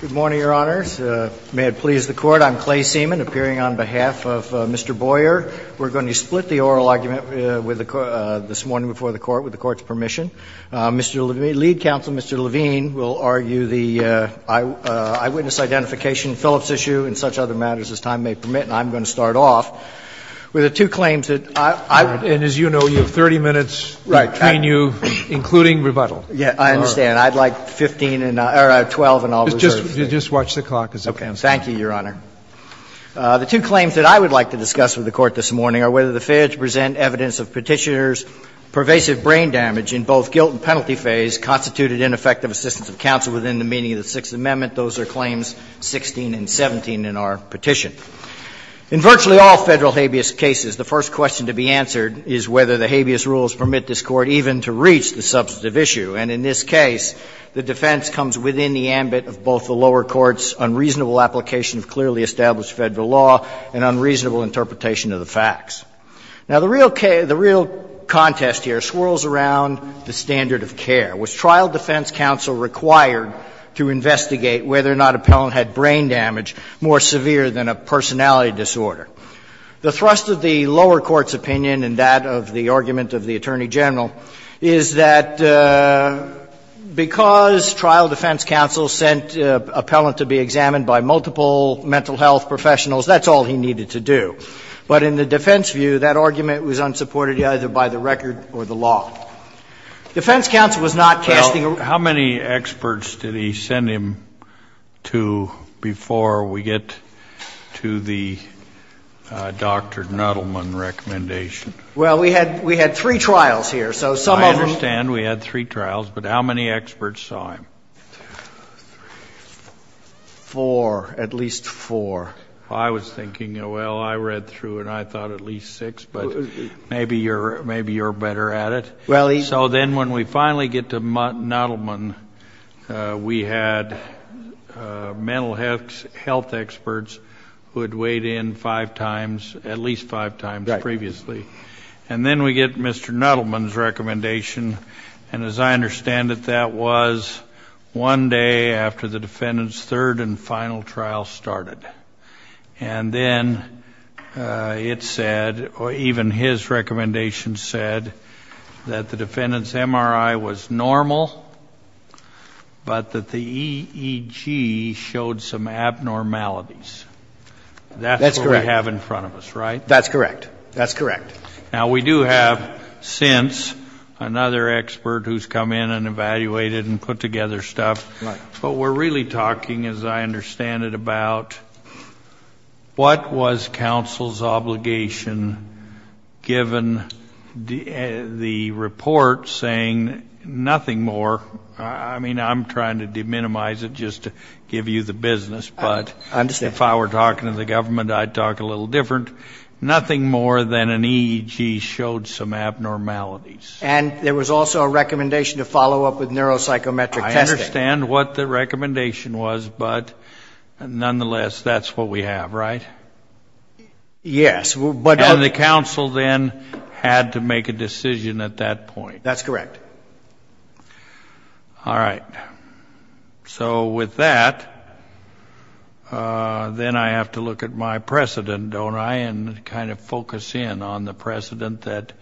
Good morning, Your Honors. May it please the Court, I'm Clay Seaman, appearing on behalf of Mr. Boyer. We're going to split the oral argument with the Court, this morning before the Court, with the Court's permission. Mr. Levine, lead counsel, Mr. Levine, will argue the eyewitness identification, Phillips issue, and such other matters as time may permit. And I'm going to start off with the two claims that I, I, and as you know, you have 30 minutes between you, including rebuttal. Yeah, I understand. I'd like 15 and, or 12 and I'll reserve it. It's just watch the clock as it goes. Okay. Thank you, Your Honor. The two claims that I would like to discuss with the Court, this morning, are whether the failure to present evidence of Petitioner's pervasive brain damage in both guilt and penalty phase constituted ineffective assistance of counsel within the meaning of the Sixth Amendment. Those are claims 16 and 17 in our petition. In virtually all Federal habeas cases, the first question to be answered is whether the habeas rules permit this Court even to reach the substantive issue. And in this case, the lower courts' unreasonable application of clearly established Federal law and unreasonable interpretation of the facts. Now, the real case, the real contest here, swirls around the standard of care. Was trial defense counsel required to investigate whether or not appellant had brain damage more severe than a personality disorder? The thrust of the lower court's opinion and that of the argument of the Attorney General is that because trial defense counsel sent an appellant to be examined by multiple mental health professionals, that's all he needed to do. But in the defense view, that argument was unsupported either by the record or the law. Defense counsel was not casting a real question. Well, how many experts did he send him to before we get to the Dr. Nettleman recommendation? Well, we had three trials here. So some of them ---- Two, three, four, at least four. I was thinking, well, I read through and I thought at least six, but maybe you're better at it. So then when we finally get to Nettleman, we had mental health experts who had weighed in five times, at least five times previously. And then we get Mr. Nettleman's recommendation. And as I understand it, that was one day after the defendant's third and final trial started. And then it said, or even his recommendation said, that the defendant's MRI was normal, but that the EEG showed some abnormalities. That's what we have in front of us, right? That's correct. That's correct. Now, we do have, since, another expert who's come in and evaluated and put together stuff, but we're really talking, as I understand it, about what was counsel's obligation given the report saying nothing more. I mean, I'm trying to de-minimize it just to give you the business, but if I were talking to the EEG showed some abnormalities. And there was also a recommendation to follow up with neuropsychometric testing. I understand what the recommendation was, but nonetheless, that's what we have, right? Yes. And the counsel then had to make a decision at that point. That's correct. All right. So with that, then I have to look at my precedent, don't I, and kind of focus in on the precedent that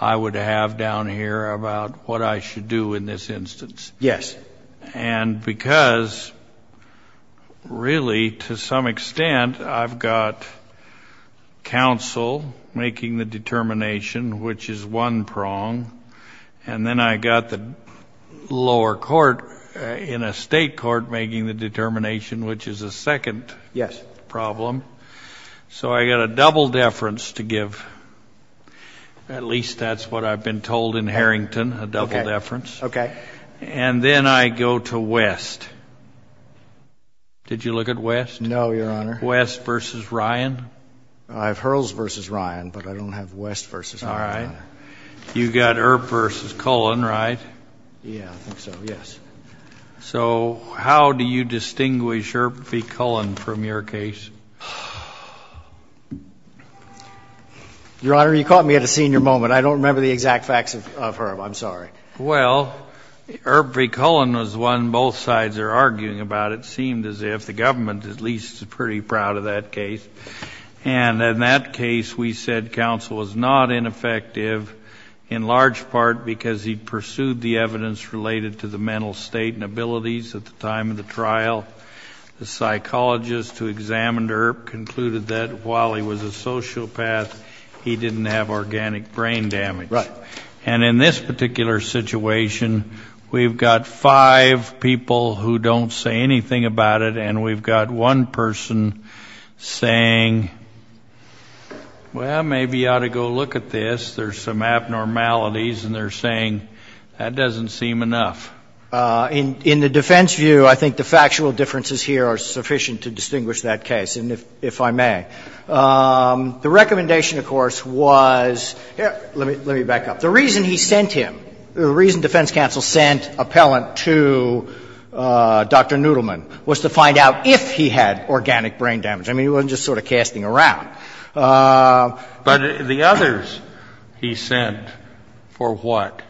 I would have down here about what I should do in this instance. Yes. And because, really, to some extent, I've got counsel making the determination, which is one prong, and then I've got the lower court in a state court making the determination, which is a second problem. Yes. So I've got a second prong. So I've got a double deference to give. At least that's what I've been told in Harrington, a double deference. Okay. And then I go to West. Did you look at West? No, Your Honor. West v. Ryan? I have Hurls v. Ryan, but I don't have West v. Ryan. All right. You've got Earp v. Cullen, right? Yes, I think so, yes. So how do you distinguish Earp v. Cullen from your case? Your Honor, you caught me at a senior moment. I don't remember the exact facts of Earp. I'm sorry. Well, Earp v. Cullen was one both sides are arguing about. It seemed as if the government, at least, is pretty proud of that case. And in that case, we said counsel was not ineffective in large part because he at the time of the trial. The psychologist who examined Earp concluded that while he was a sociopath, he didn't have organic brain damage. Right. And in this particular situation, we've got five people who don't say anything about it, and we've got one person saying, well, maybe you ought to go look at this. There's some abnormalities, and they're saying that doesn't seem enough. In the defense view, I think the factual differences here are sufficient to distinguish that case, and if I may, the recommendation, of course, was, let me back up. The reason he sent him, the reason defense counsel sent appellant to Dr. Noodleman was to find out if he had organic brain damage. I mean, he wasn't just sort of casting around. But the others he sent, for what?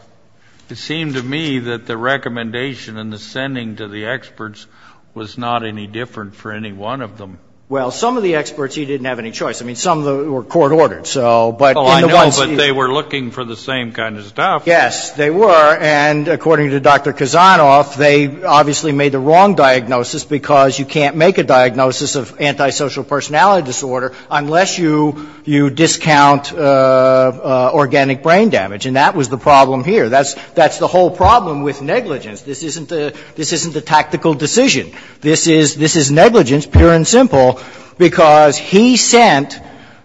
It seemed to me that the recommendation and the sending to the experts was not any different for any one of them. Well, some of the experts, he didn't have any choice. I mean, some of them were court-ordered, so, but in the ones he... Oh, I know, but they were looking for the same kind of stuff. Yes, they were. And according to Dr. Kazanov, they obviously made the wrong diagnosis because you can't make a diagnosis of antisocial personality disorder unless you discount organic brain damage. And that was the problem here. That's the whole problem with negligence. This isn't a tactical decision. This is negligence, pure and simple, because he sent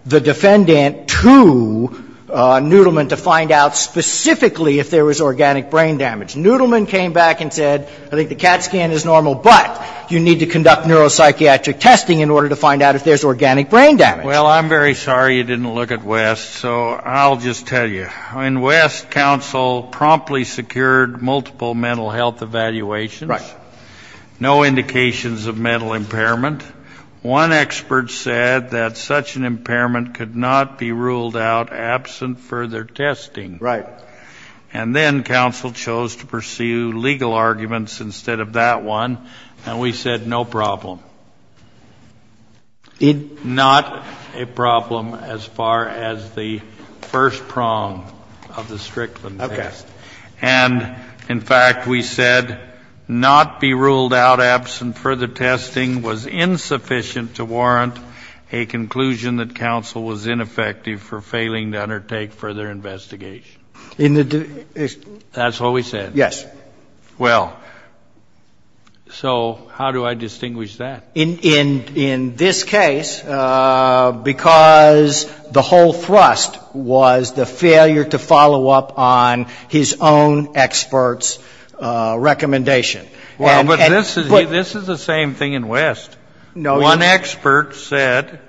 the defendant to Noodleman to find out specifically if there was organic brain damage. Noodleman came back and said, I think the CAT scan is normal, but you need to conduct neuropsychiatric testing in order to find out if there's organic brain damage. Well, I'm very sorry you didn't look at West, so I'll just tell you. I mean, West counsel promptly secured multiple mental health evaluations, no indications of mental impairment. One expert said that such an impairment could not be ruled out absent further testing. Right. And then counsel chose to pursue legal arguments instead of that one, and we said, no problem. Not a problem as far as the first prong of the Strickland test. And in fact, we said, not be ruled out absent further testing was insufficient to warrant a conclusion that counsel was ineffective for failing to undertake further investigation. That's what we said? Yes. Well, so how do I distinguish that? In this case, because the whole thrust was the failure to follow up on his own expert's recommendation. Well, but this is the same thing in West. One expert said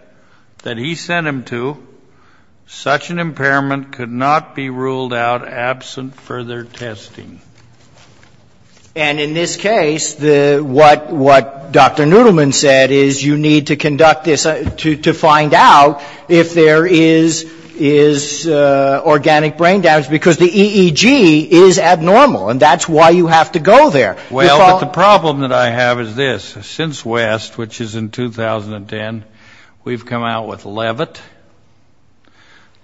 that he sent him to, such an impairment could not be ruled out absent further testing. And in this case, what Dr. Noodleman said is you need to conduct this to find out if there is organic brain damage, because the EEG is abnormal, and that's why you have to go there. Well, but the problem that I have is this. Since West, which is in 2010, we've come out with Levitt.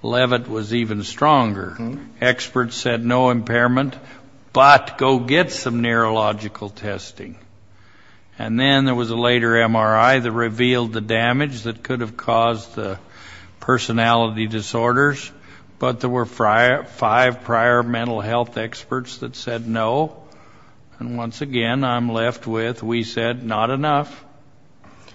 Levitt was even stronger. Experts said no impairment, but go get some neurological testing. And then there was a later MRI that revealed the damage that could have caused the personality disorders, but there were five prior mental health experts that said no. And once again, I'm left with, we said not enough.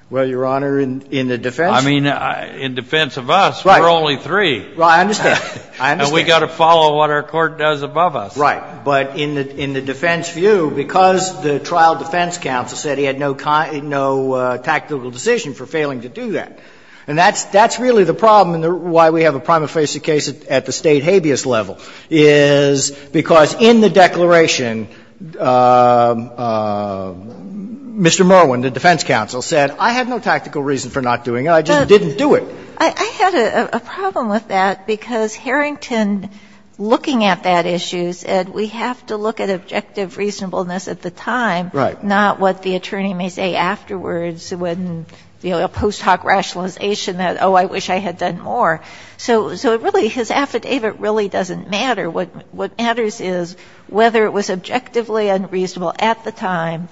Well, Your Honor, in the defense of us, we're only three, and we've got to follow what our Court does above us. Right. But in the defense view, because the trial defense counsel said he had no tactical decision for failing to do that, and that's really the problem and why we have a prima bias level, is because in the declaration, Mr. Merwin, the defense counsel, said I had no tactical reason for not doing it, I just didn't do it. But I had a problem with that, because Harrington, looking at that issue, said we have to look at objective reasonableness at the time, not what the attorney may say afterwards when, you know, post hoc rationalization, oh, I wish I had done more. So really, his affidavit really doesn't matter. What matters is whether it was objectively unreasonable at the time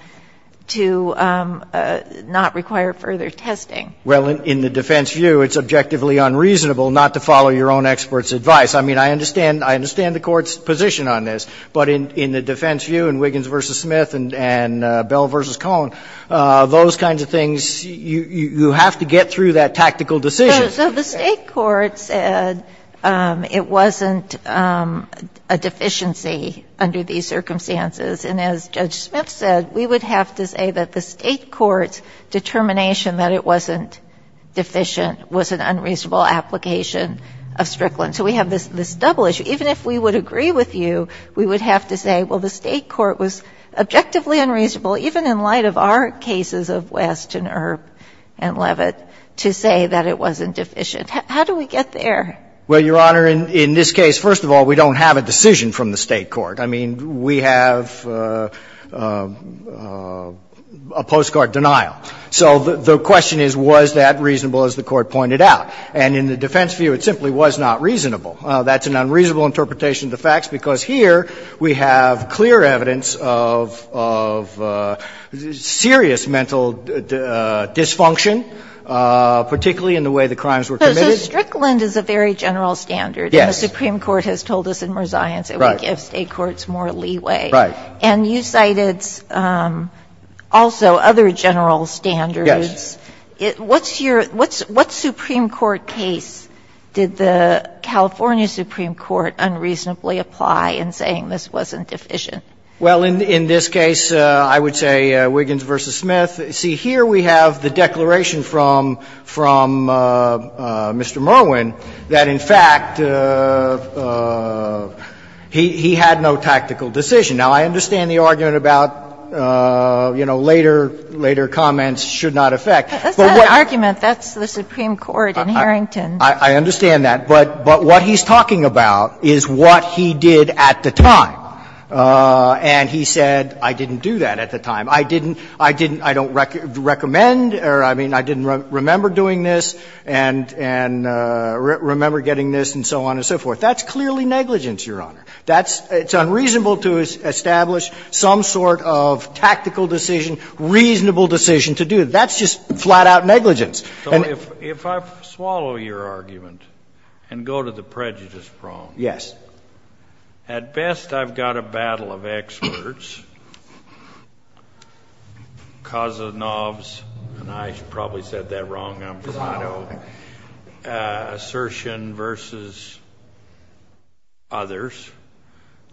to not require further testing. Well, in the defense view, it's objectively unreasonable not to follow your own expert's advice. I mean, I understand the Court's position on this, but in the defense view in Wiggins v. Smith and Bell v. Cohen, those kinds of things, you have to get through that tactical decision. So the State court said it wasn't a deficiency under these circumstances. And as Judge Smith said, we would have to say that the State court's determination that it wasn't deficient was an unreasonable application of Strickland. So we have this double issue. Even if we would agree with you, we would have to say, well, the State court was objectively unreasonable, even in light of our cases of West and Earp and Levitt, to say that it wasn't deficient. How do we get there? Well, Your Honor, in this case, first of all, we don't have a decision from the State court. I mean, we have a postcard denial. So the question is, was that reasonable, as the Court pointed out? And in the defense view, it simply was not reasonable. That's an unreasonable interpretation of the facts, because here we have clear evidence of serious mental dysfunction, particularly in the way the crimes were committed. So Strickland is a very general standard. Yes. And the Supreme Court has told us in resignance it would give State courts more leeway. Right. And you cited also other general standards. Yes. What's your – what Supreme Court case did the California Supreme Court unreasonably apply in saying this wasn't deficient? Well, in this case, I would say Wiggins v. Smith. See, here we have the declaration from Mr. Merwin that, in fact, he had no tactical decision. Now, I understand the argument about, you know, later comments should not affect. That's not an argument. That's the Supreme Court in Harrington. I understand that. But what he's talking about is what he did at the time. And he said, I didn't do that at the time. I didn't – I didn't – I don't recommend – or, I mean, I didn't remember doing this and remember getting this and so on and so forth. That's clearly negligence, Your Honor. That's – it's unreasonable to establish some sort of tactical decision, reasonable decision to do it. That's just flat-out negligence. So if I swallow your argument and go to the prejudice prong. Yes. At best, I've got a battle of experts. Kozlov's – and I probably said that wrong, I'm from Idaho – assertion versus others.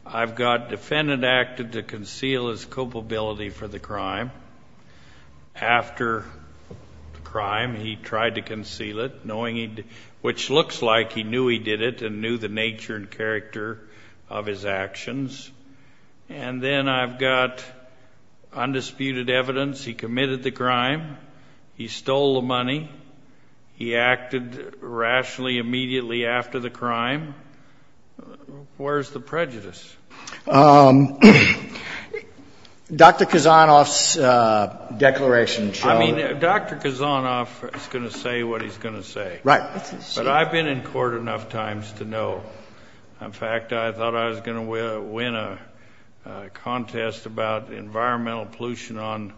I've got defendant acted to conceal his culpability for the crime. After the crime, he tried to conceal it, knowing he – which looks like he knew he did it and knew the nature and character of his actions. And then I've got undisputed evidence. He committed the crime. He stole the money. He acted rationally immediately after the crime. Where's the prejudice? Dr. Kozlov's declaration – I mean, Dr. Kozlov is going to say what he's going to say. Right. But I've been in court enough times to know. In fact, I thought I was going to win a contest about environmental pollution on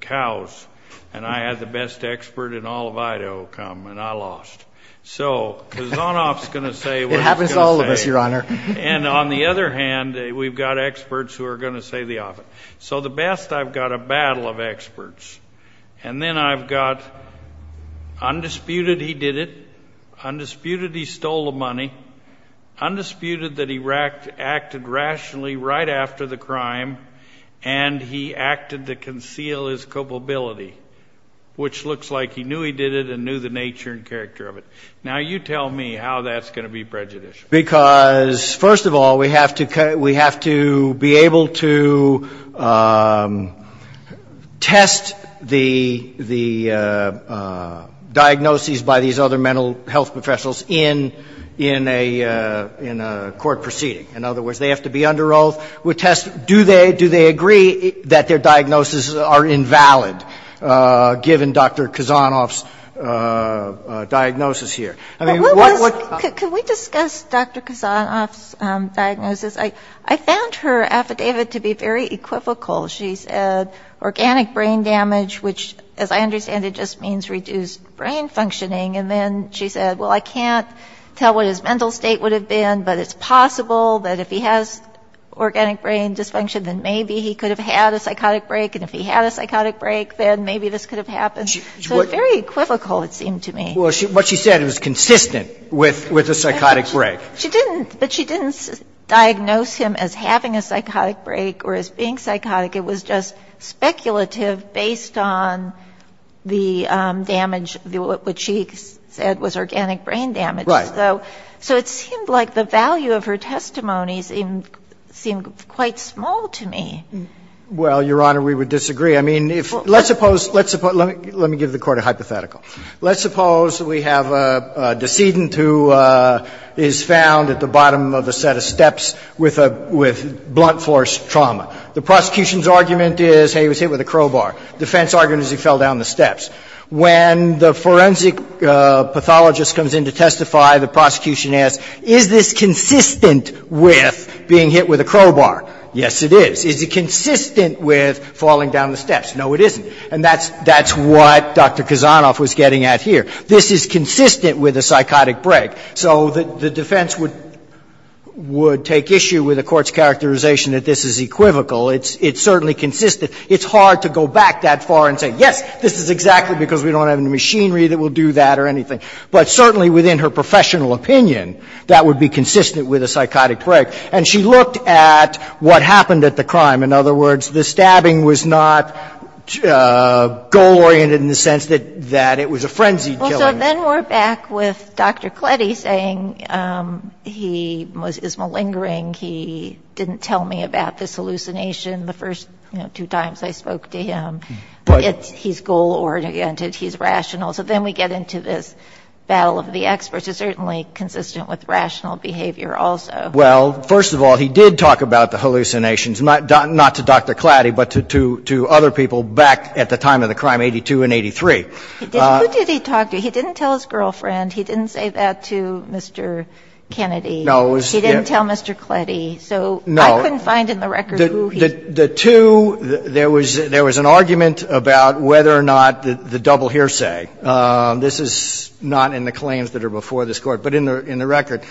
cows. And I had the best expert in all of Idaho come, and I lost. So Kozlov's going to say what he's going to say. It happens to all of us, Your Honor. And on the other hand, we've got experts who are going to say the opposite. So at best, I've got a battle of experts. And then I've got undisputed he did it, undisputed he stole the money, undisputed that he acted rationally right after the crime, and he acted to conceal his culpability, which looks like he knew he did it and knew the nature and character of it. Now, you tell me how that's going to be prejudicial. Because first of all, we have to be able to test the diagnoses by these other mental health professionals in a court proceeding. In other words, they have to be under oath. Do they agree that their diagnoses are invalid given Dr. Kozlov's diagnosis here? Can we discuss Dr. Kozlov's diagnosis? I found her affidavit to be very equivocal. She said organic brain damage, which as I understand it just means reduced brain functioning. And then she said, well, I can't tell what his mental state would have been, but it's possible that if he has organic brain dysfunction, then maybe he could have had a psychotic break. And if he had a psychotic break, then maybe this could have happened. So very equivocal, it seemed to me. Well, what she said, it was consistent with a psychotic break. She didn't, but she didn't diagnose him as having a psychotic break or as being psychotic. It was just speculative based on the damage, which she said was organic brain damage. Right. So it seemed like the value of her testimonies seemed quite small to me. Well, Your Honor, we would disagree. I mean, let's suppose, let me give the Court a hypothetical. Let's suppose we have a decedent who is found at the bottom of a set of steps with blunt force trauma. The prosecution's argument is, hey, he was hit with a crowbar. Defense argument is he fell down the steps. When the forensic pathologist comes in to testify, the prosecution asks, is this consistent with being hit with a crowbar? Yes, it is. Is it consistent with falling down the steps? No, it isn't. And that's what Dr. Kazanov was getting at here. This is consistent with a psychotic break. So the defense would take issue with the Court's characterization that this is equivocal. It's certainly consistent. It's hard to go back that far and say, yes, this is exactly because we don't have any machinery that will do that or anything. But certainly within her professional opinion, that would be consistent with a psychotic break. And she looked at what happened at the crime. In other words, the stabbing was not goal-oriented in the sense that it was a frenzy killing. Well, so then we're back with Dr. Klede saying he is malingering. He didn't tell me about this hallucination the first two times I spoke to him. But he's goal-oriented. He's rational. So then we get into this battle of the experts. It's certainly consistent with rational behavior also. Well, first of all, he did talk about the hallucinations. Not to Dr. Klede, but to other people back at the time of the crime, 82 and 83. Who did he talk to? He didn't tell his girlfriend. He didn't say that to Mr. Kennedy. No. He didn't tell Mr. Klede. So I couldn't find in the record who he was. The two, there was an argument about whether or not the double hearsay, this is not in the claims that are before this Court, but in the record,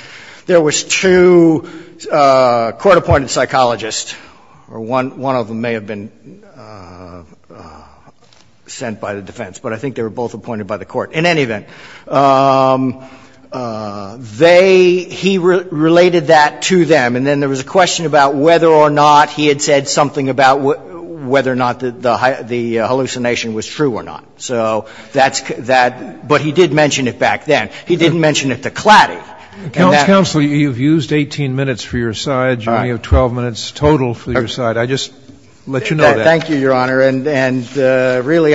there was two court-appointed psychologists, or one of them may have been sent by the defense, but I think they were both appointed by the Court. In any event, they, he related that to them. And then there was a question about whether or not he had said something about whether or not the hallucination was true or not. So that's, but he did mention it back then. He didn't mention it to Klede. And that's the point. Scalia, you've used 18 minutes for your side. All right. You only have 12 minutes total for your side. I just let you know that. Thank you, Your Honor. And really,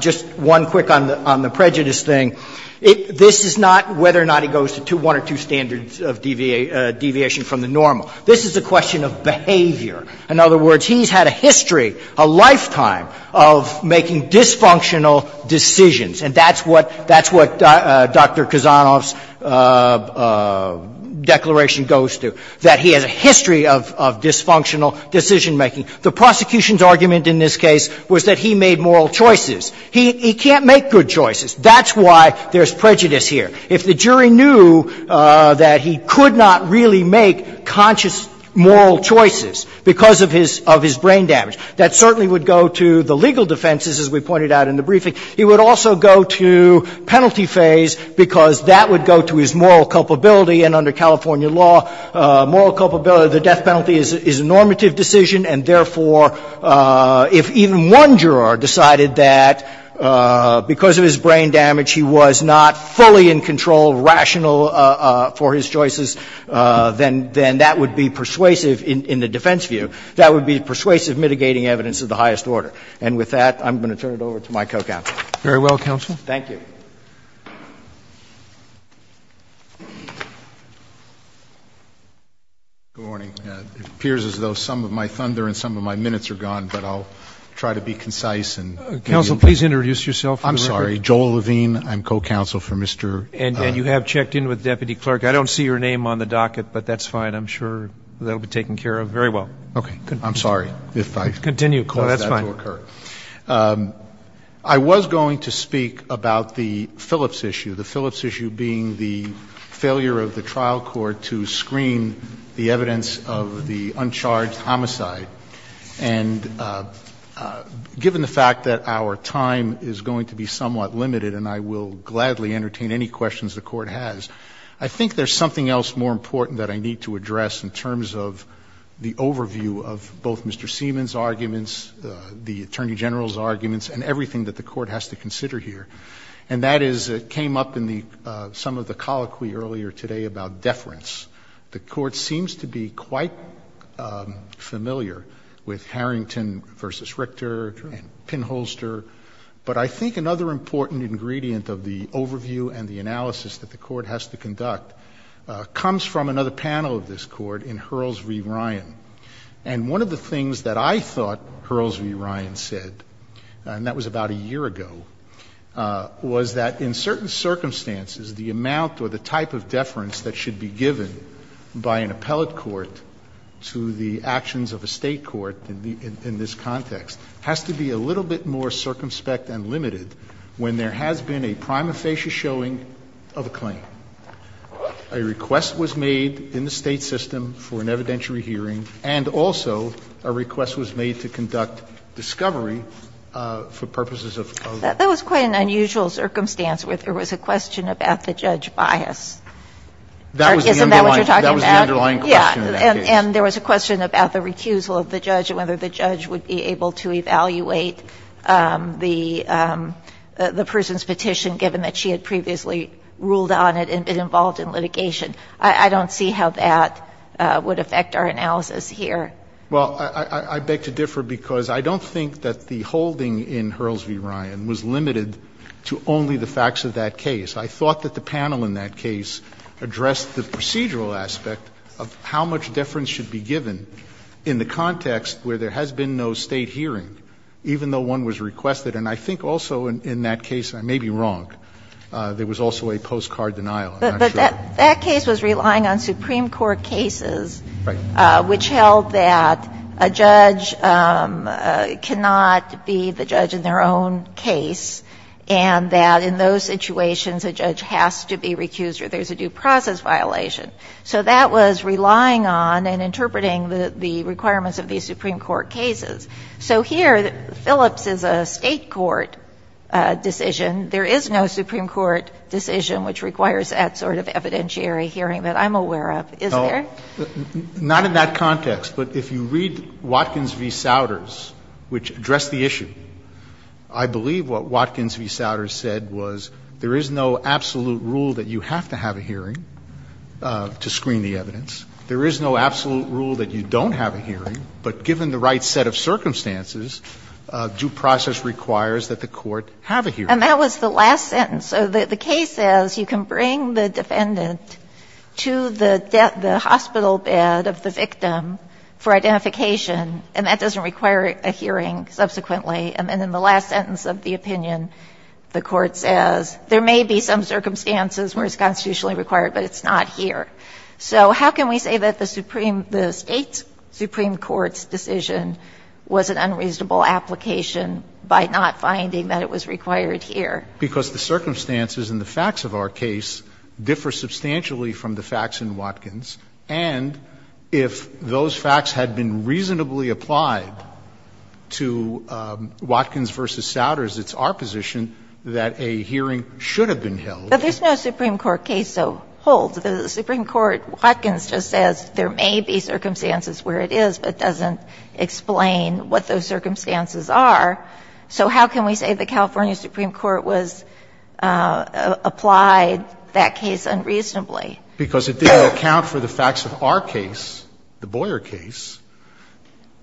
just one quick on the prejudice thing, this is not whether or not he goes to one or two standards of deviation from the normal. This is a question of behavior. In other words, he's had a history, a lifetime of making dysfunctional decisions, and that's what Dr. Kozanoff's brief was. That's what the declaration goes to, that he has a history of dysfunctional decision-making. The prosecution's argument in this case was that he made moral choices. He can't make good choices. That's why there's prejudice here. If the jury knew that he could not really make conscious moral choices because of his brain damage, that certainly would go to the legal defenses, as we pointed out in the briefing. He would also go to penalty phase, because that would go to his moral culpability. And under California law, moral culpability, the death penalty is a normative decision, and therefore, if even one juror decided that because of his brain damage he was not fully in control, rational for his choices, then that would be persuasive in the defense view. That would be persuasive mitigating evidence of the highest order. And with that, I'm going to turn it over to my co-counsel. Very well, counsel. Thank you. Good morning. It appears as though some of my thunder and some of my minutes are gone, but I'll try to be concise. Counsel, please introduce yourself. I'm sorry. Joel Levine. I'm co-counsel for Mr. And you have checked in with the deputy clerk. I don't see your name on the docket, but that's fine. I'm sure that will be taken care of very well. Okay. I'm sorry if I caused that to occur. I was going to speak about the Phillips issue, the Phillips issue being the failure of the trial court to screen the evidence of the uncharged homicide. And given the fact that our time is going to be somewhat limited, and I will gladly entertain any questions the Court has, I think there's something else more important that I need to address in terms of the overview of both Mr. Seaman's arguments, the Attorney General's arguments, and everything that the Court has to consider here. And that is, it came up in some of the colloquy earlier today about deference. The Court seems to be quite familiar with Harrington v. Richter and Pinholster. But I think another important ingredient of the overview and the analysis that the panel of this Court in Hurls v. Ryan. And one of the things that I thought Hurls v. Ryan said, and that was about a year ago, was that in certain circumstances the amount or the type of deference that should be given by an appellate court to the actions of a State court in this context has to be a little bit more circumspect and limited when there has been a prima facie showing of a claim. A request was made in the State system for an evidentiary hearing, and also a request was made to conduct discovery for purposes of. That was quite an unusual circumstance, where there was a question about the judge bias. Isn't that what you're talking about? That was the underlying question in that case. And there was a question about the recusal of the judge and whether the judge would be able to evaluate the person's petition, given that she had previously ruled on it and been involved in litigation. I don't see how that would affect our analysis here. Well, I beg to differ, because I don't think that the holding in Hurls v. Ryan was limited to only the facts of that case. I thought that the panel in that case addressed the procedural aspect of how much deference should be given in the context where there has been no State hearing, even though one was requested. And I think also in that case, I may be wrong, there was also a postcard denial. I'm not sure. But that case was relying on Supreme Court cases, which held that a judge cannot be the judge in their own case, and that in those situations, a judge has to be recused or there's a due process violation. So that was relying on and interpreting the requirements of these Supreme Court cases. So here, Phillips is a State court decision. There is no Supreme Court decision which requires that sort of evidentiary hearing that I'm aware of. Is there? Not in that context. But if you read Watkins v. Souders, which addressed the issue, I believe what Watkins v. Souders said was there is no absolute rule that you have to have a hearing to screen the evidence. There is no absolute rule that you don't have a hearing, but given the right set of circumstances, due process requires that the Court have a hearing. And that was the last sentence. So the case says you can bring the defendant to the hospital bed of the victim for identification, and that doesn't require a hearing subsequently. And then in the last sentence of the opinion, the Court says there may be some circumstances where it's constitutionally required, but it's not here. So how can we say that the State Supreme Court's decision was an unreasonable application by not finding that it was required here? Because the circumstances and the facts of our case differ substantially from the facts in Watkins. And if those facts had been reasonably applied to Watkins v. Souders, it's our position that a hearing should have been held. But there's no Supreme Court case so whole. The Supreme Court, Watkins just says there may be circumstances where it is, but it doesn't explain what those circumstances are. So how can we say the California Supreme Court was – applied that case unreasonably? Because if they account for the facts of our case, the Boyer case,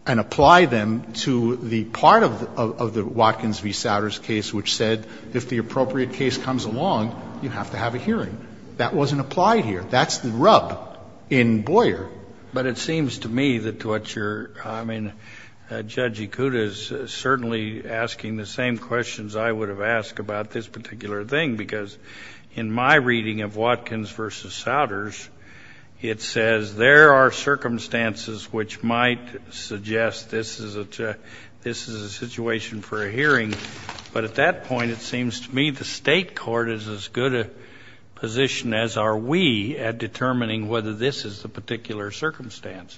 and apply them to the part of the Watkins v. Souders case which said if the appropriate case comes along, you have to have a hearing, that wasn't applied here. That's the rub in Boyer. But it seems to me that what you're – I mean, Judge Ikuta is certainly asking the same questions I would have asked about this particular thing, because in my reading of Watkins v. Souders, it says there are circumstances which might suggest this is a situation for a hearing. But at that point, it seems to me the State court is as good a position as are we at determining whether this is the particular circumstance.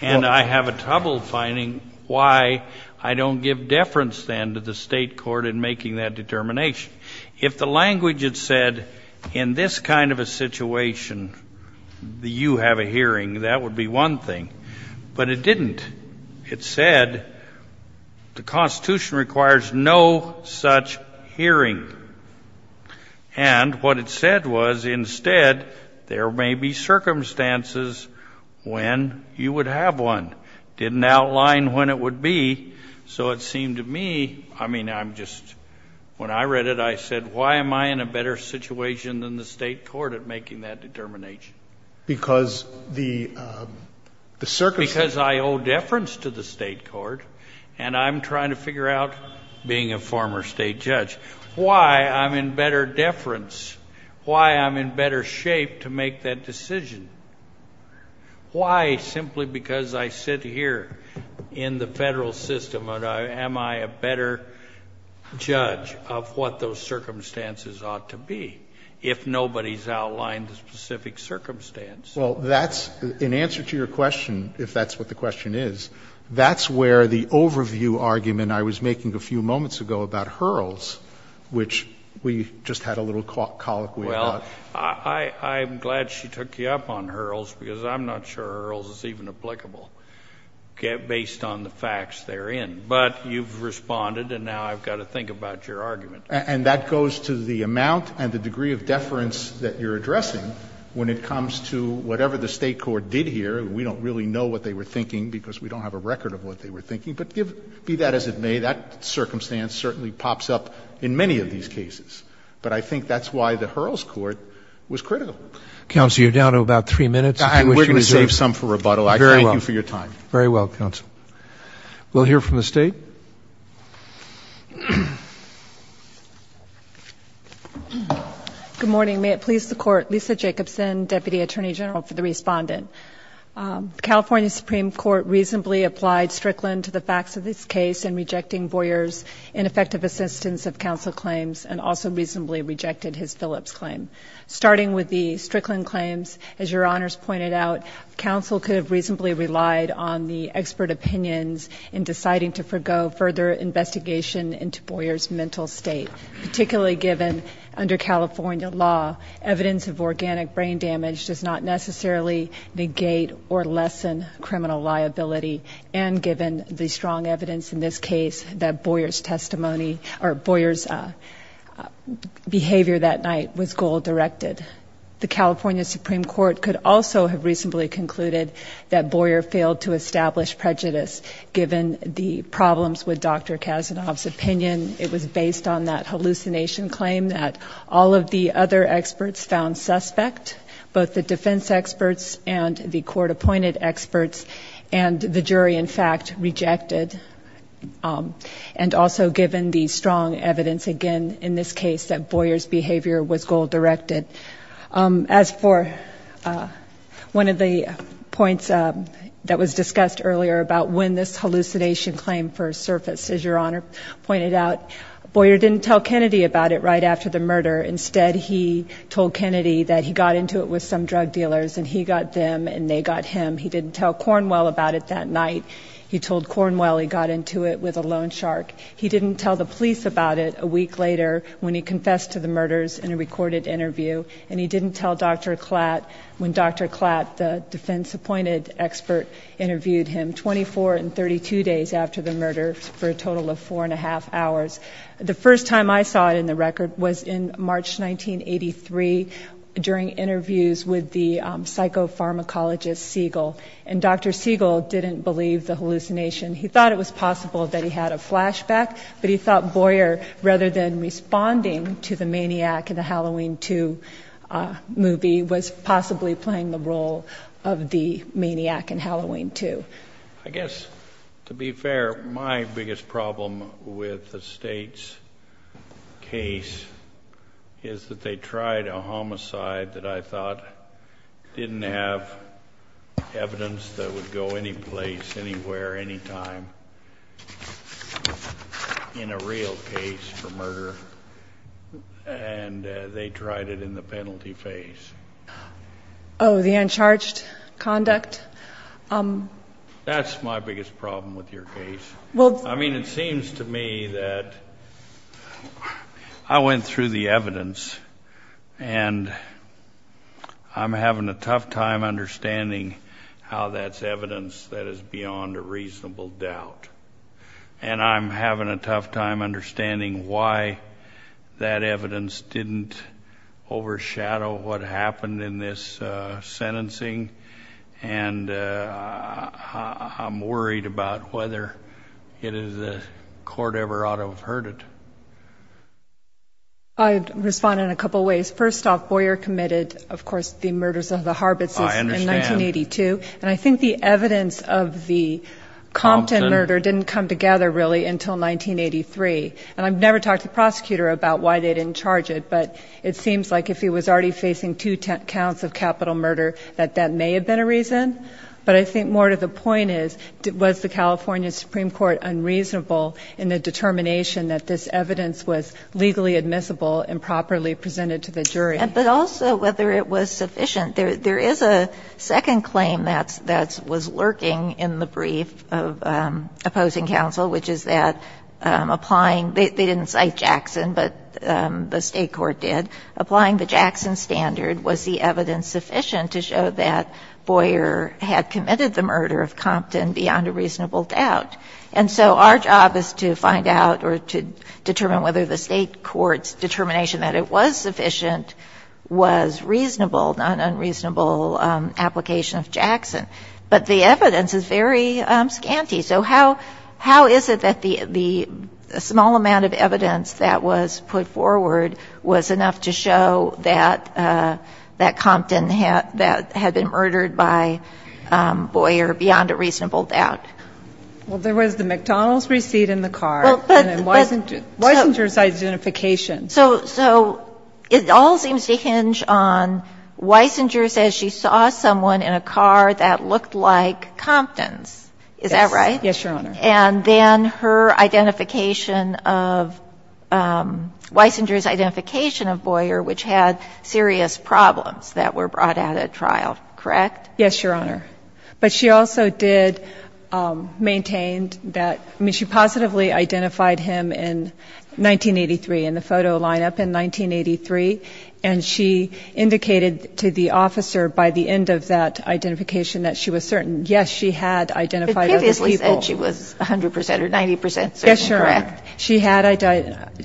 And I have a trouble finding why I don't give deference then to the State court in making that determination. If the language had said in this kind of a situation, you have a hearing, that would be one thing. But it didn't. It said the Constitution requires no such hearing. And what it said was, instead, there may be circumstances when you would have one. It didn't outline when it would be, so it seemed to me – I mean, I'm just – when I read it, I said, why am I in a better situation than the State court at making that determination? Because the circumstances – Because I owe deference to the State court, and I'm trying to figure out being a former State judge. Why I'm in better deference, why I'm in better shape to make that decision, why simply because I sit here in the federal system, am I a better judge of what those circumstances ought to be, if nobody's outlined the specific circumstance? Well, that's – in answer to your question, if that's what the question is, that's where the overview argument I was making a few moments ago about Hurls, which we just had a little colloquy about. Well, I'm glad she took you up on Hurls, because I'm not sure Hurls is even applicable based on the facts therein. But you've responded, and now I've got to think about your argument. And that goes to the amount and the degree of deference that you're addressing when it comes to whatever the State court did here. We don't really know what they were thinking, because we don't have a record of what they were thinking. But give – be that as it may, that circumstance certainly pops up in many of these cases. But I think that's why the Hurls court was critical. Counsel, you're down to about three minutes, if you wish to resume. And we're going to save some for rebuttal. I thank you for your time. Very well. Very well, counsel. We'll hear from the State. Good morning. May it please the Court, Lisa Jacobson, Deputy Attorney General, for the respondent. The California Supreme Court reasonably applied Strickland to the facts of this case in rejecting Boyer's ineffective assistance of counsel claims, and also reasonably rejected his Phillips claim. Starting with the Strickland claims, as Your Honors pointed out, counsel could have reasonably relied on the expert opinions in deciding to forego further investigation into Boyer's mental state, particularly given, under California law, evidence of organic brain damage does not necessarily negate or lessen criminal liability, and given the strong evidence in this case that Boyer's testimony – or Boyer's behavior that night was goal-directed. The California Supreme Court could also have reasonably concluded that Boyer failed to establish prejudice, given the problems with Dr. Kasanoff's opinion. It was based on that hallucination claim that all of the other experts found suspect, both the defense experts and the court-appointed experts, and the jury, in fact, rejected, and also given the strong evidence, again, in this case that Boyer's behavior was goal-directed. As for one of the points that was discussed earlier about when this hallucination claim first surfaced, as Your Honor pointed out, Boyer didn't tell Kennedy about it right after the murder. Instead, he told Kennedy that he got into it with some drug dealers, and he got them, and they got him. He didn't tell Cornwell about it that night. He told Cornwell he got into it with a loan shark. He didn't tell the police about it a week later when he confessed to the murders in a recorded interview, and he didn't tell Dr. Klatt when Dr. Klatt, the defense-appointed expert, interviewed him 24 and 32 days after the murder, for a total of four and a half hours. The first time I saw it in the record was in March 1983 during interviews with the psychopharmacologist Siegel, and Dr. Siegel didn't believe the hallucination. He thought it was possible that he had a flashback, but he thought Boyer, rather than responding to the maniac in the Halloween II movie, was possibly playing the role of the maniac in Halloween II. I guess, to be fair, my biggest problem with the state's case is that they tried a homicide that I thought didn't have evidence that would go anyplace, anywhere, anytime in a real case for murder, and they tried it in the penalty phase. Oh, the uncharged conduct? That's my biggest problem with your case. I mean, it seems to me that I went through the evidence, and I'm having a tough time understanding how that's evidence that is beyond a reasonable doubt, and I'm having a tough time understanding why that evidence didn't overshadow what happened in this sentencing, and I'm worried about whether the court ever ought to have heard it. I'd respond in a couple of ways. First off, Boyer committed, of course, the murders of the Harbits in 1982, and I think the evidence of the Compton murder didn't come together, really, until 1983, and I've never talked to the prosecutor about why they didn't charge it, but it seems like if he was already facing two counts of capital murder, that that may have been a reason, but I think more to the point is, was the California Supreme Court unreasonable in the determination that this evidence was legally admissible and properly presented to the jury? But also whether it was sufficient. There is a second claim that's – that was lurking in the brief of opposing counsel, which is that applying – they didn't cite Jackson, but the State court did – applying the Jackson standard, was the evidence sufficient to show that Boyer had committed the murder of Compton beyond a reasonable doubt? And so our job is to find out or to determine whether the State court's determination that it was sufficient was reasonable, not an unreasonable application of Jackson. But the evidence is very scanty, so how – how is it that the – the small amount of evidence that was put forward was enough to show that – that Compton had – that had been murdered by Boyer beyond a reasonable doubt? Well, there was the McDonald's receipt in the car, and then Weisinger's identification. So – so it all seems to hinge on Weisinger's – as she saw someone in a car that looked like Compton's. Is that right? Yes, Your Honor. And then her identification of – Weisinger's identification of Boyer, which had serious problems that were brought out at trial, correct? Yes, Your Honor. But she also did maintain that – I mean, she positively identified him in 1983 in the photo lineup in 1983, and she indicated to the officer by the end of that identification that she was certain. Yes, she had identified other people. But previously said she was 100 percent or 90 percent certain, correct? Yes, Your Honor. She had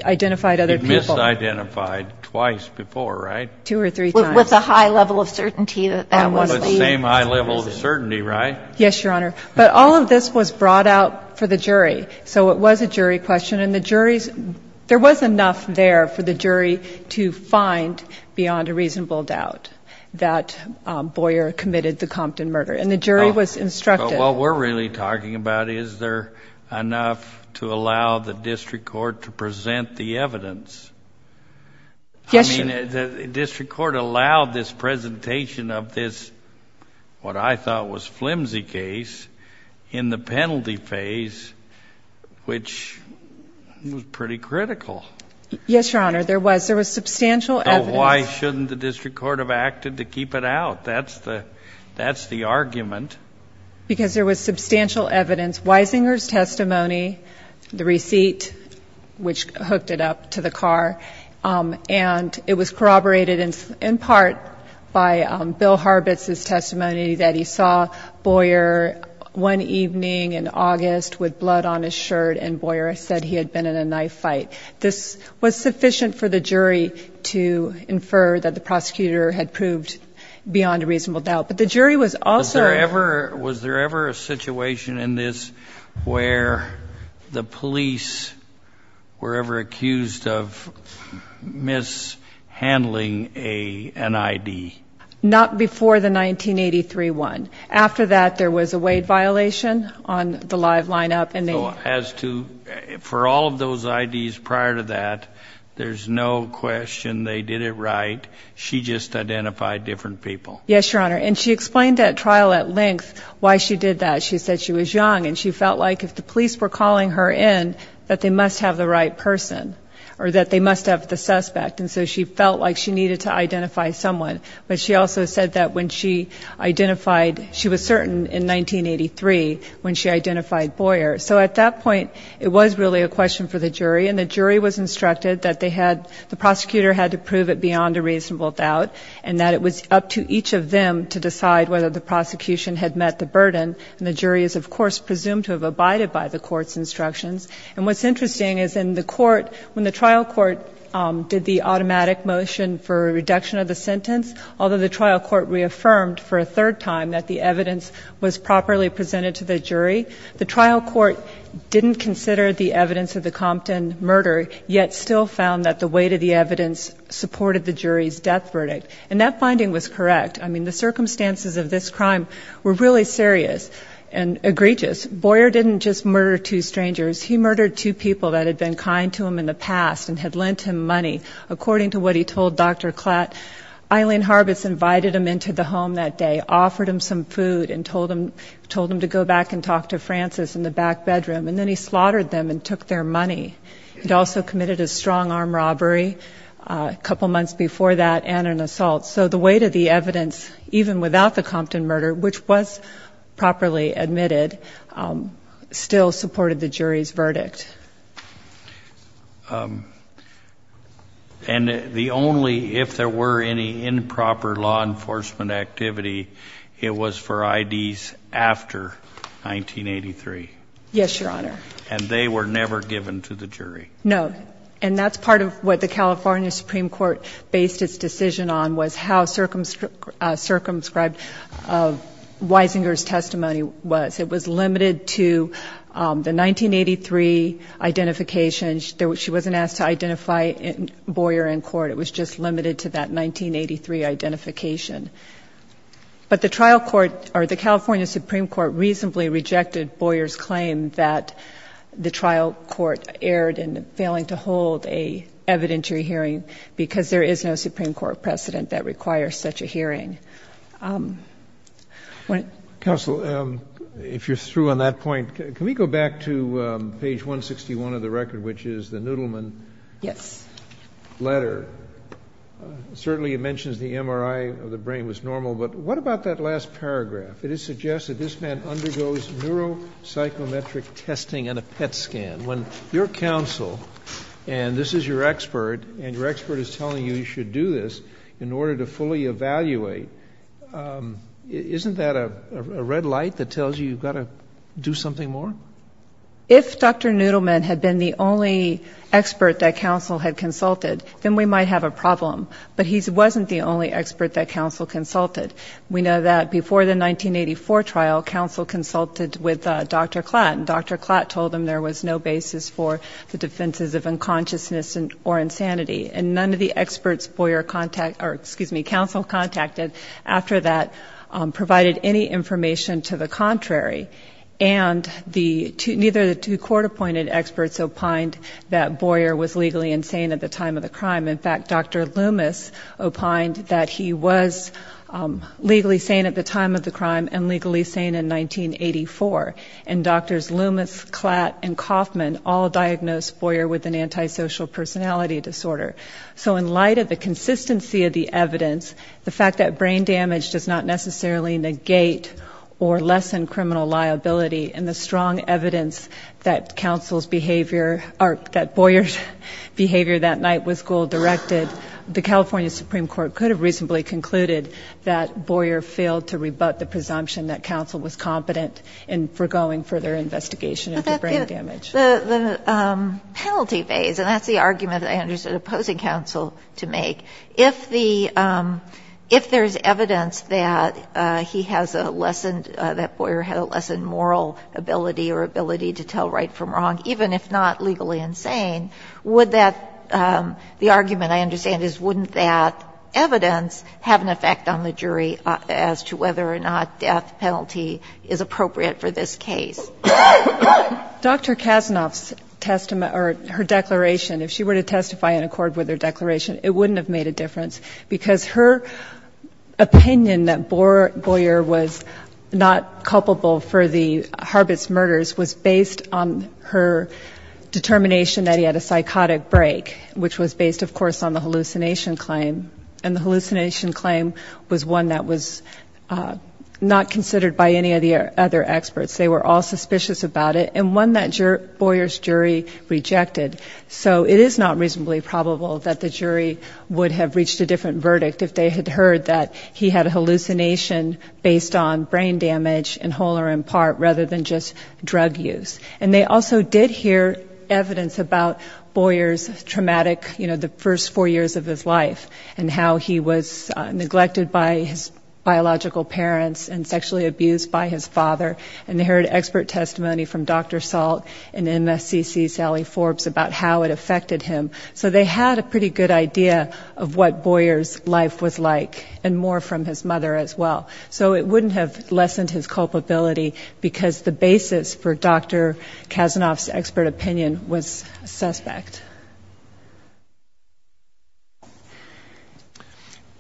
identified other people. You misidentified twice before, right? Two or three times. With a high level of certainty that that was the – Well, it was the same high level of certainty, right? Yes, Your Honor. But all of this was brought out for the jury. So it was a jury question, and the jury's – there was enough there for the jury to find beyond a reasonable doubt that Boyer committed the Compton murder, and the jury was instructed. So what we're really talking about, is there enough to allow the district court to present the evidence? Yes, Your Honor. I mean, the district court allowed this presentation of this what I thought was flimsy case in the penalty phase, which was pretty critical. Yes, Your Honor. There was. There was substantial evidence. So why shouldn't the district court have acted to keep it out? That's the argument. Because there was substantial evidence. Weisinger's testimony, the receipt, which hooked it up to the car, and it was corroborated in part by Bill Harbitz's testimony that he saw Boyer one evening in August with blood on his shirt, and Boyer said he had been in a knife fight. This was sufficient for the jury to infer that the prosecutor had proved beyond a reasonable doubt. But the jury was also – Yes, Your Honor. And she explained that trial at length why she did that. She said she was young, and she felt like if the police were calling her in, that they must have the right person, or that they must have the suspect. And so she felt like she needed to identify someone. But she also said that when she identified – she was certain in 1983 when she identified Boyer. So at that point, it was really a question for the jury, and the jury was instructed that they had – the prosecutor had to prove it beyond a reasonable doubt and that it was up to each of them to decide whether the prosecution had met the burden, and the jury is, of course, presumed to have abided by the court's instructions. And what's interesting is in the court, when the trial court did the automatic motion for a reduction of the sentence, although the trial court reaffirmed for a third time that the evidence was properly presented to the jury, the trial court didn't consider the evidence of the Compton murder, yet still found that the weight of the evidence supported the jury's death verdict. And that finding was correct. I mean, the circumstances of this crime were really serious and egregious. Boyer didn't just murder two strangers. He murdered two people that had been kind to him in the past and had lent him money. According to what he told Dr. Klatt, Eileen Harbis invited him into the home that day, offered him some food, and told him to go back and talk to Francis in the back bedroom. And then he slaughtered them and took their money. He'd also committed a strong arm robbery a couple months before that and an assault. So the weight of the evidence, even without the Compton murder, which was properly admitted, still supported the jury's verdict. And the only, if there were any improper law enforcement activity, it was for IDs after 1983? Yes, Your Honor. And they were never given to the jury? No. And that's part of what the California Supreme Court based its decision on, was how circumscribed Weisinger's testimony was. It was limited to the 1983 identification. She wasn't asked to identify Boyer in court. It was just limited to that 1983 identification. But the trial court, or the California Supreme Court, reasonably rejected Boyer's claim that the trial court erred in failing to hold a evidentiary hearing, because there is no Supreme Court precedent that requires such a hearing. Counsel, if you're through on that point, can we go back to page 161 of the record, which is the Noodleman- Yes. Letter. Certainly it mentions the MRI of the brain was normal, but what about that last paragraph? It suggests that this man undergoes neuropsychometric testing and a PET scan. When your counsel, and this is your expert, and your expert is telling you you should do this in order to fully evaluate, isn't that a red light that tells you you've got to do something more? If Dr. Noodleman had been the only expert that counsel had consulted, then we might have a problem. But he wasn't the only expert that counsel consulted. We know that before the 1984 trial, counsel consulted with Dr. Klatt. And Dr. Klatt told him there was no basis for the defenses of unconsciousness or insanity. And none of the experts counsel contacted after that provided any information to the contrary. And neither of the two court appointed experts opined that Boyer was legally insane at the time of the crime. In fact, Dr. Loomis opined that he was legally sane at the time of the crime and legally sane in 1984. And doctors Loomis, Klatt, and Kaufman all diagnosed Boyer with an antisocial personality disorder. So in light of the consistency of the evidence, the fact that brain damage does not necessarily negate or lessen criminal liability, and the strong evidence that Boyer's behavior that night with school directed, the California Supreme Court could have reasonably concluded that Boyer failed to rebut the presumption that counsel was competent in foregoing further investigation of the brain damage. The penalty phase, and that's the argument that I understood opposing counsel to make. If there's evidence that he has a lessened, that Boyer had a lessened moral ability or ability to tell right from wrong, even if not legally insane, would that, the argument I understand is wouldn't that evidence have an effect on the jury as to whether or not death penalty is appropriate for this case? Dr. Kasanoff's testimony, or her declaration, if she were to testify in accord with her declaration, it wouldn't have made a difference, because her opinion that Boyer was not culpable for the Harbits murders was based on her determination that he had a sense of guilt, and a psychotic break, which was based, of course, on the hallucination claim. And the hallucination claim was one that was not considered by any of the other experts. They were all suspicious about it, and one that Boyer's jury rejected. So it is not reasonably probable that the jury would have reached a different verdict if they had heard that he had a hallucination based on brain damage, in whole or in part, rather than just drug use. And they also did hear evidence about Boyer's traumatic, you know, the first four years of his life, and how he was neglected by his biological parents, and sexually abused by his father. And they heard expert testimony from Dr. Salt and MSCC Sally Forbes about how it affected him. So they had a pretty good idea of what Boyer's life was like, and more from his mother as well. So it wouldn't have lessened his culpability, because the basis for Dr. Kasanoff's expert opinion was suspect.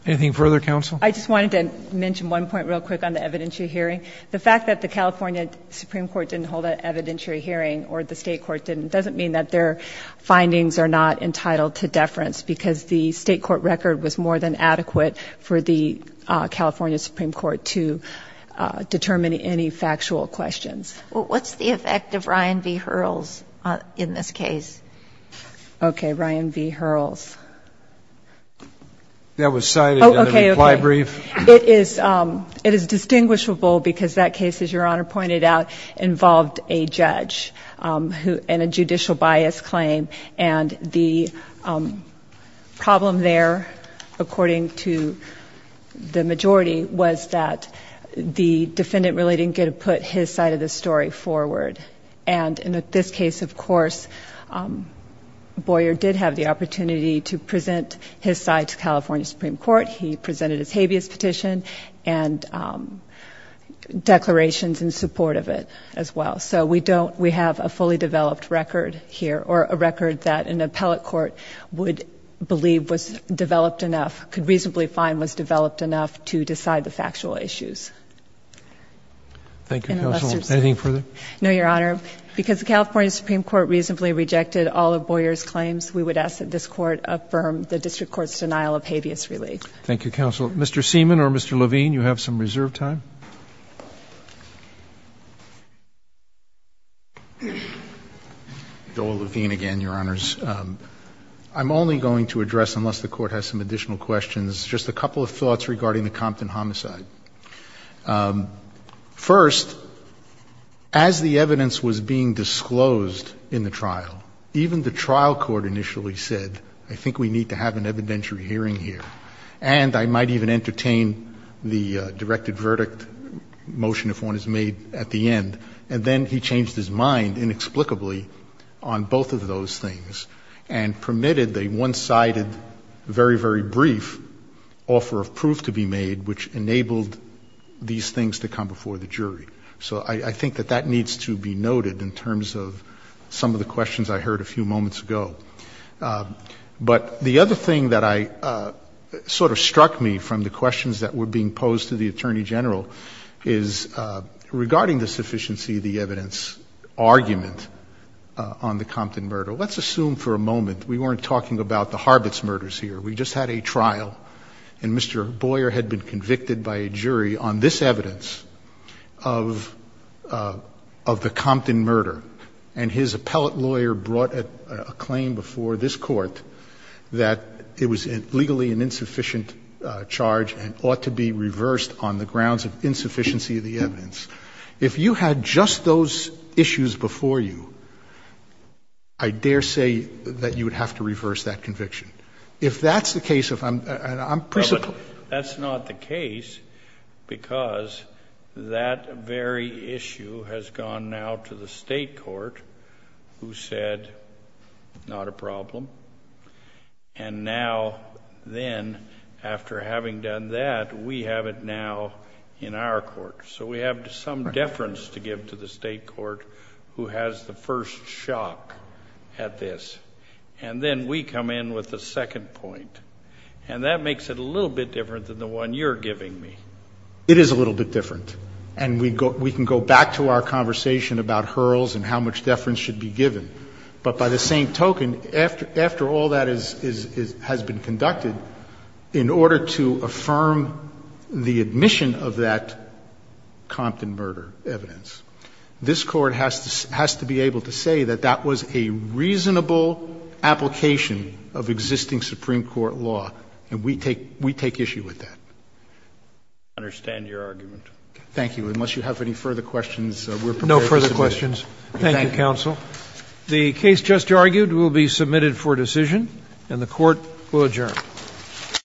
Anything further, counsel? I just wanted to mention one point real quick on the evidentiary hearing. The fact that the California Supreme Court didn't hold an evidentiary hearing, or the state court didn't, doesn't mean that their findings are not entitled to deference, because the state court record was more than adequate for the California Supreme Court to determine any factual questions. What's the effect of Ryan v. Hurls in this case? Okay, Ryan v. Hurls. That was cited in the reply brief. It is distinguishable, because that case, as Your Honor pointed out, involved a judge and a judicial bias claim. And the problem there, according to the majority, was that the defendant really didn't get to put his side of the story forward. And in this case, of course, Boyer did have the opportunity to present his side to California Supreme Court. He presented his habeas petition and declarations in support of it as well. So we have a fully developed record here, or a record that an appellate court would believe was developed enough, could reasonably find was developed enough to decide the factual issues. Thank you, counsel. Anything further? No, Your Honor. Because the California Supreme Court reasonably rejected all of Boyer's claims, we would ask that this court affirm the district court's denial of habeas relief. Thank you, counsel. Mr. Seaman or Mr. Levine, you have some reserve time. Joel Levine again, Your Honors. I'm only going to address, unless the court has some additional questions, just a couple of thoughts regarding the Compton homicide. First, as the evidence was being disclosed in the trial, even the trial court initially said, I think we need to have an evidentiary hearing here. And I might even entertain the directed verdict motion if one is made at the end. And then he changed his mind inexplicably on both of those things and permitted the one-sided, very, very brief offer of proof to be made, which enabled these things to come before the jury. So I think that that needs to be noted in terms of some of the questions I heard a few moments ago. But the other thing that sort of struck me from the questions that were being posed to the Attorney General is regarding the sufficiency of the evidence argument on the Compton murder. Let's assume for a moment, we weren't talking about the Harbits murders here. We just had a trial, and Mr. Boyer had been convicted by a jury on this evidence of the Compton murder. And his appellate lawyer brought a claim before this court that it was legally an insufficient charge and ought to be reversed on the grounds of insufficiency of the evidence. If you had just those issues before you, I dare say that you would have to reverse that conviction. If that's the case, if I'm, I'm, I'm. That's not the case, because that very issue has gone now to the state court, who said, not a problem. And now, then, after having done that, we have it now in our court. So we have some deference to give to the state court who has the first shock at this. And then we come in with the second point. And that makes it a little bit different than the one you're giving me. It is a little bit different. And we go, we can go back to our conversation about hurls and how much deference should be given. But by the same token, after all that has been conducted, in order to affirm the admission of that Compton murder evidence, this court has to be able to say that that was a reasonable application of existing Supreme Court law. And we take issue with that. I understand your argument. Thank you. Unless you have any further questions, we're prepared to submit. No further questions. Thank you, counsel. The case just argued will be submitted for decision, and the court will adjourn.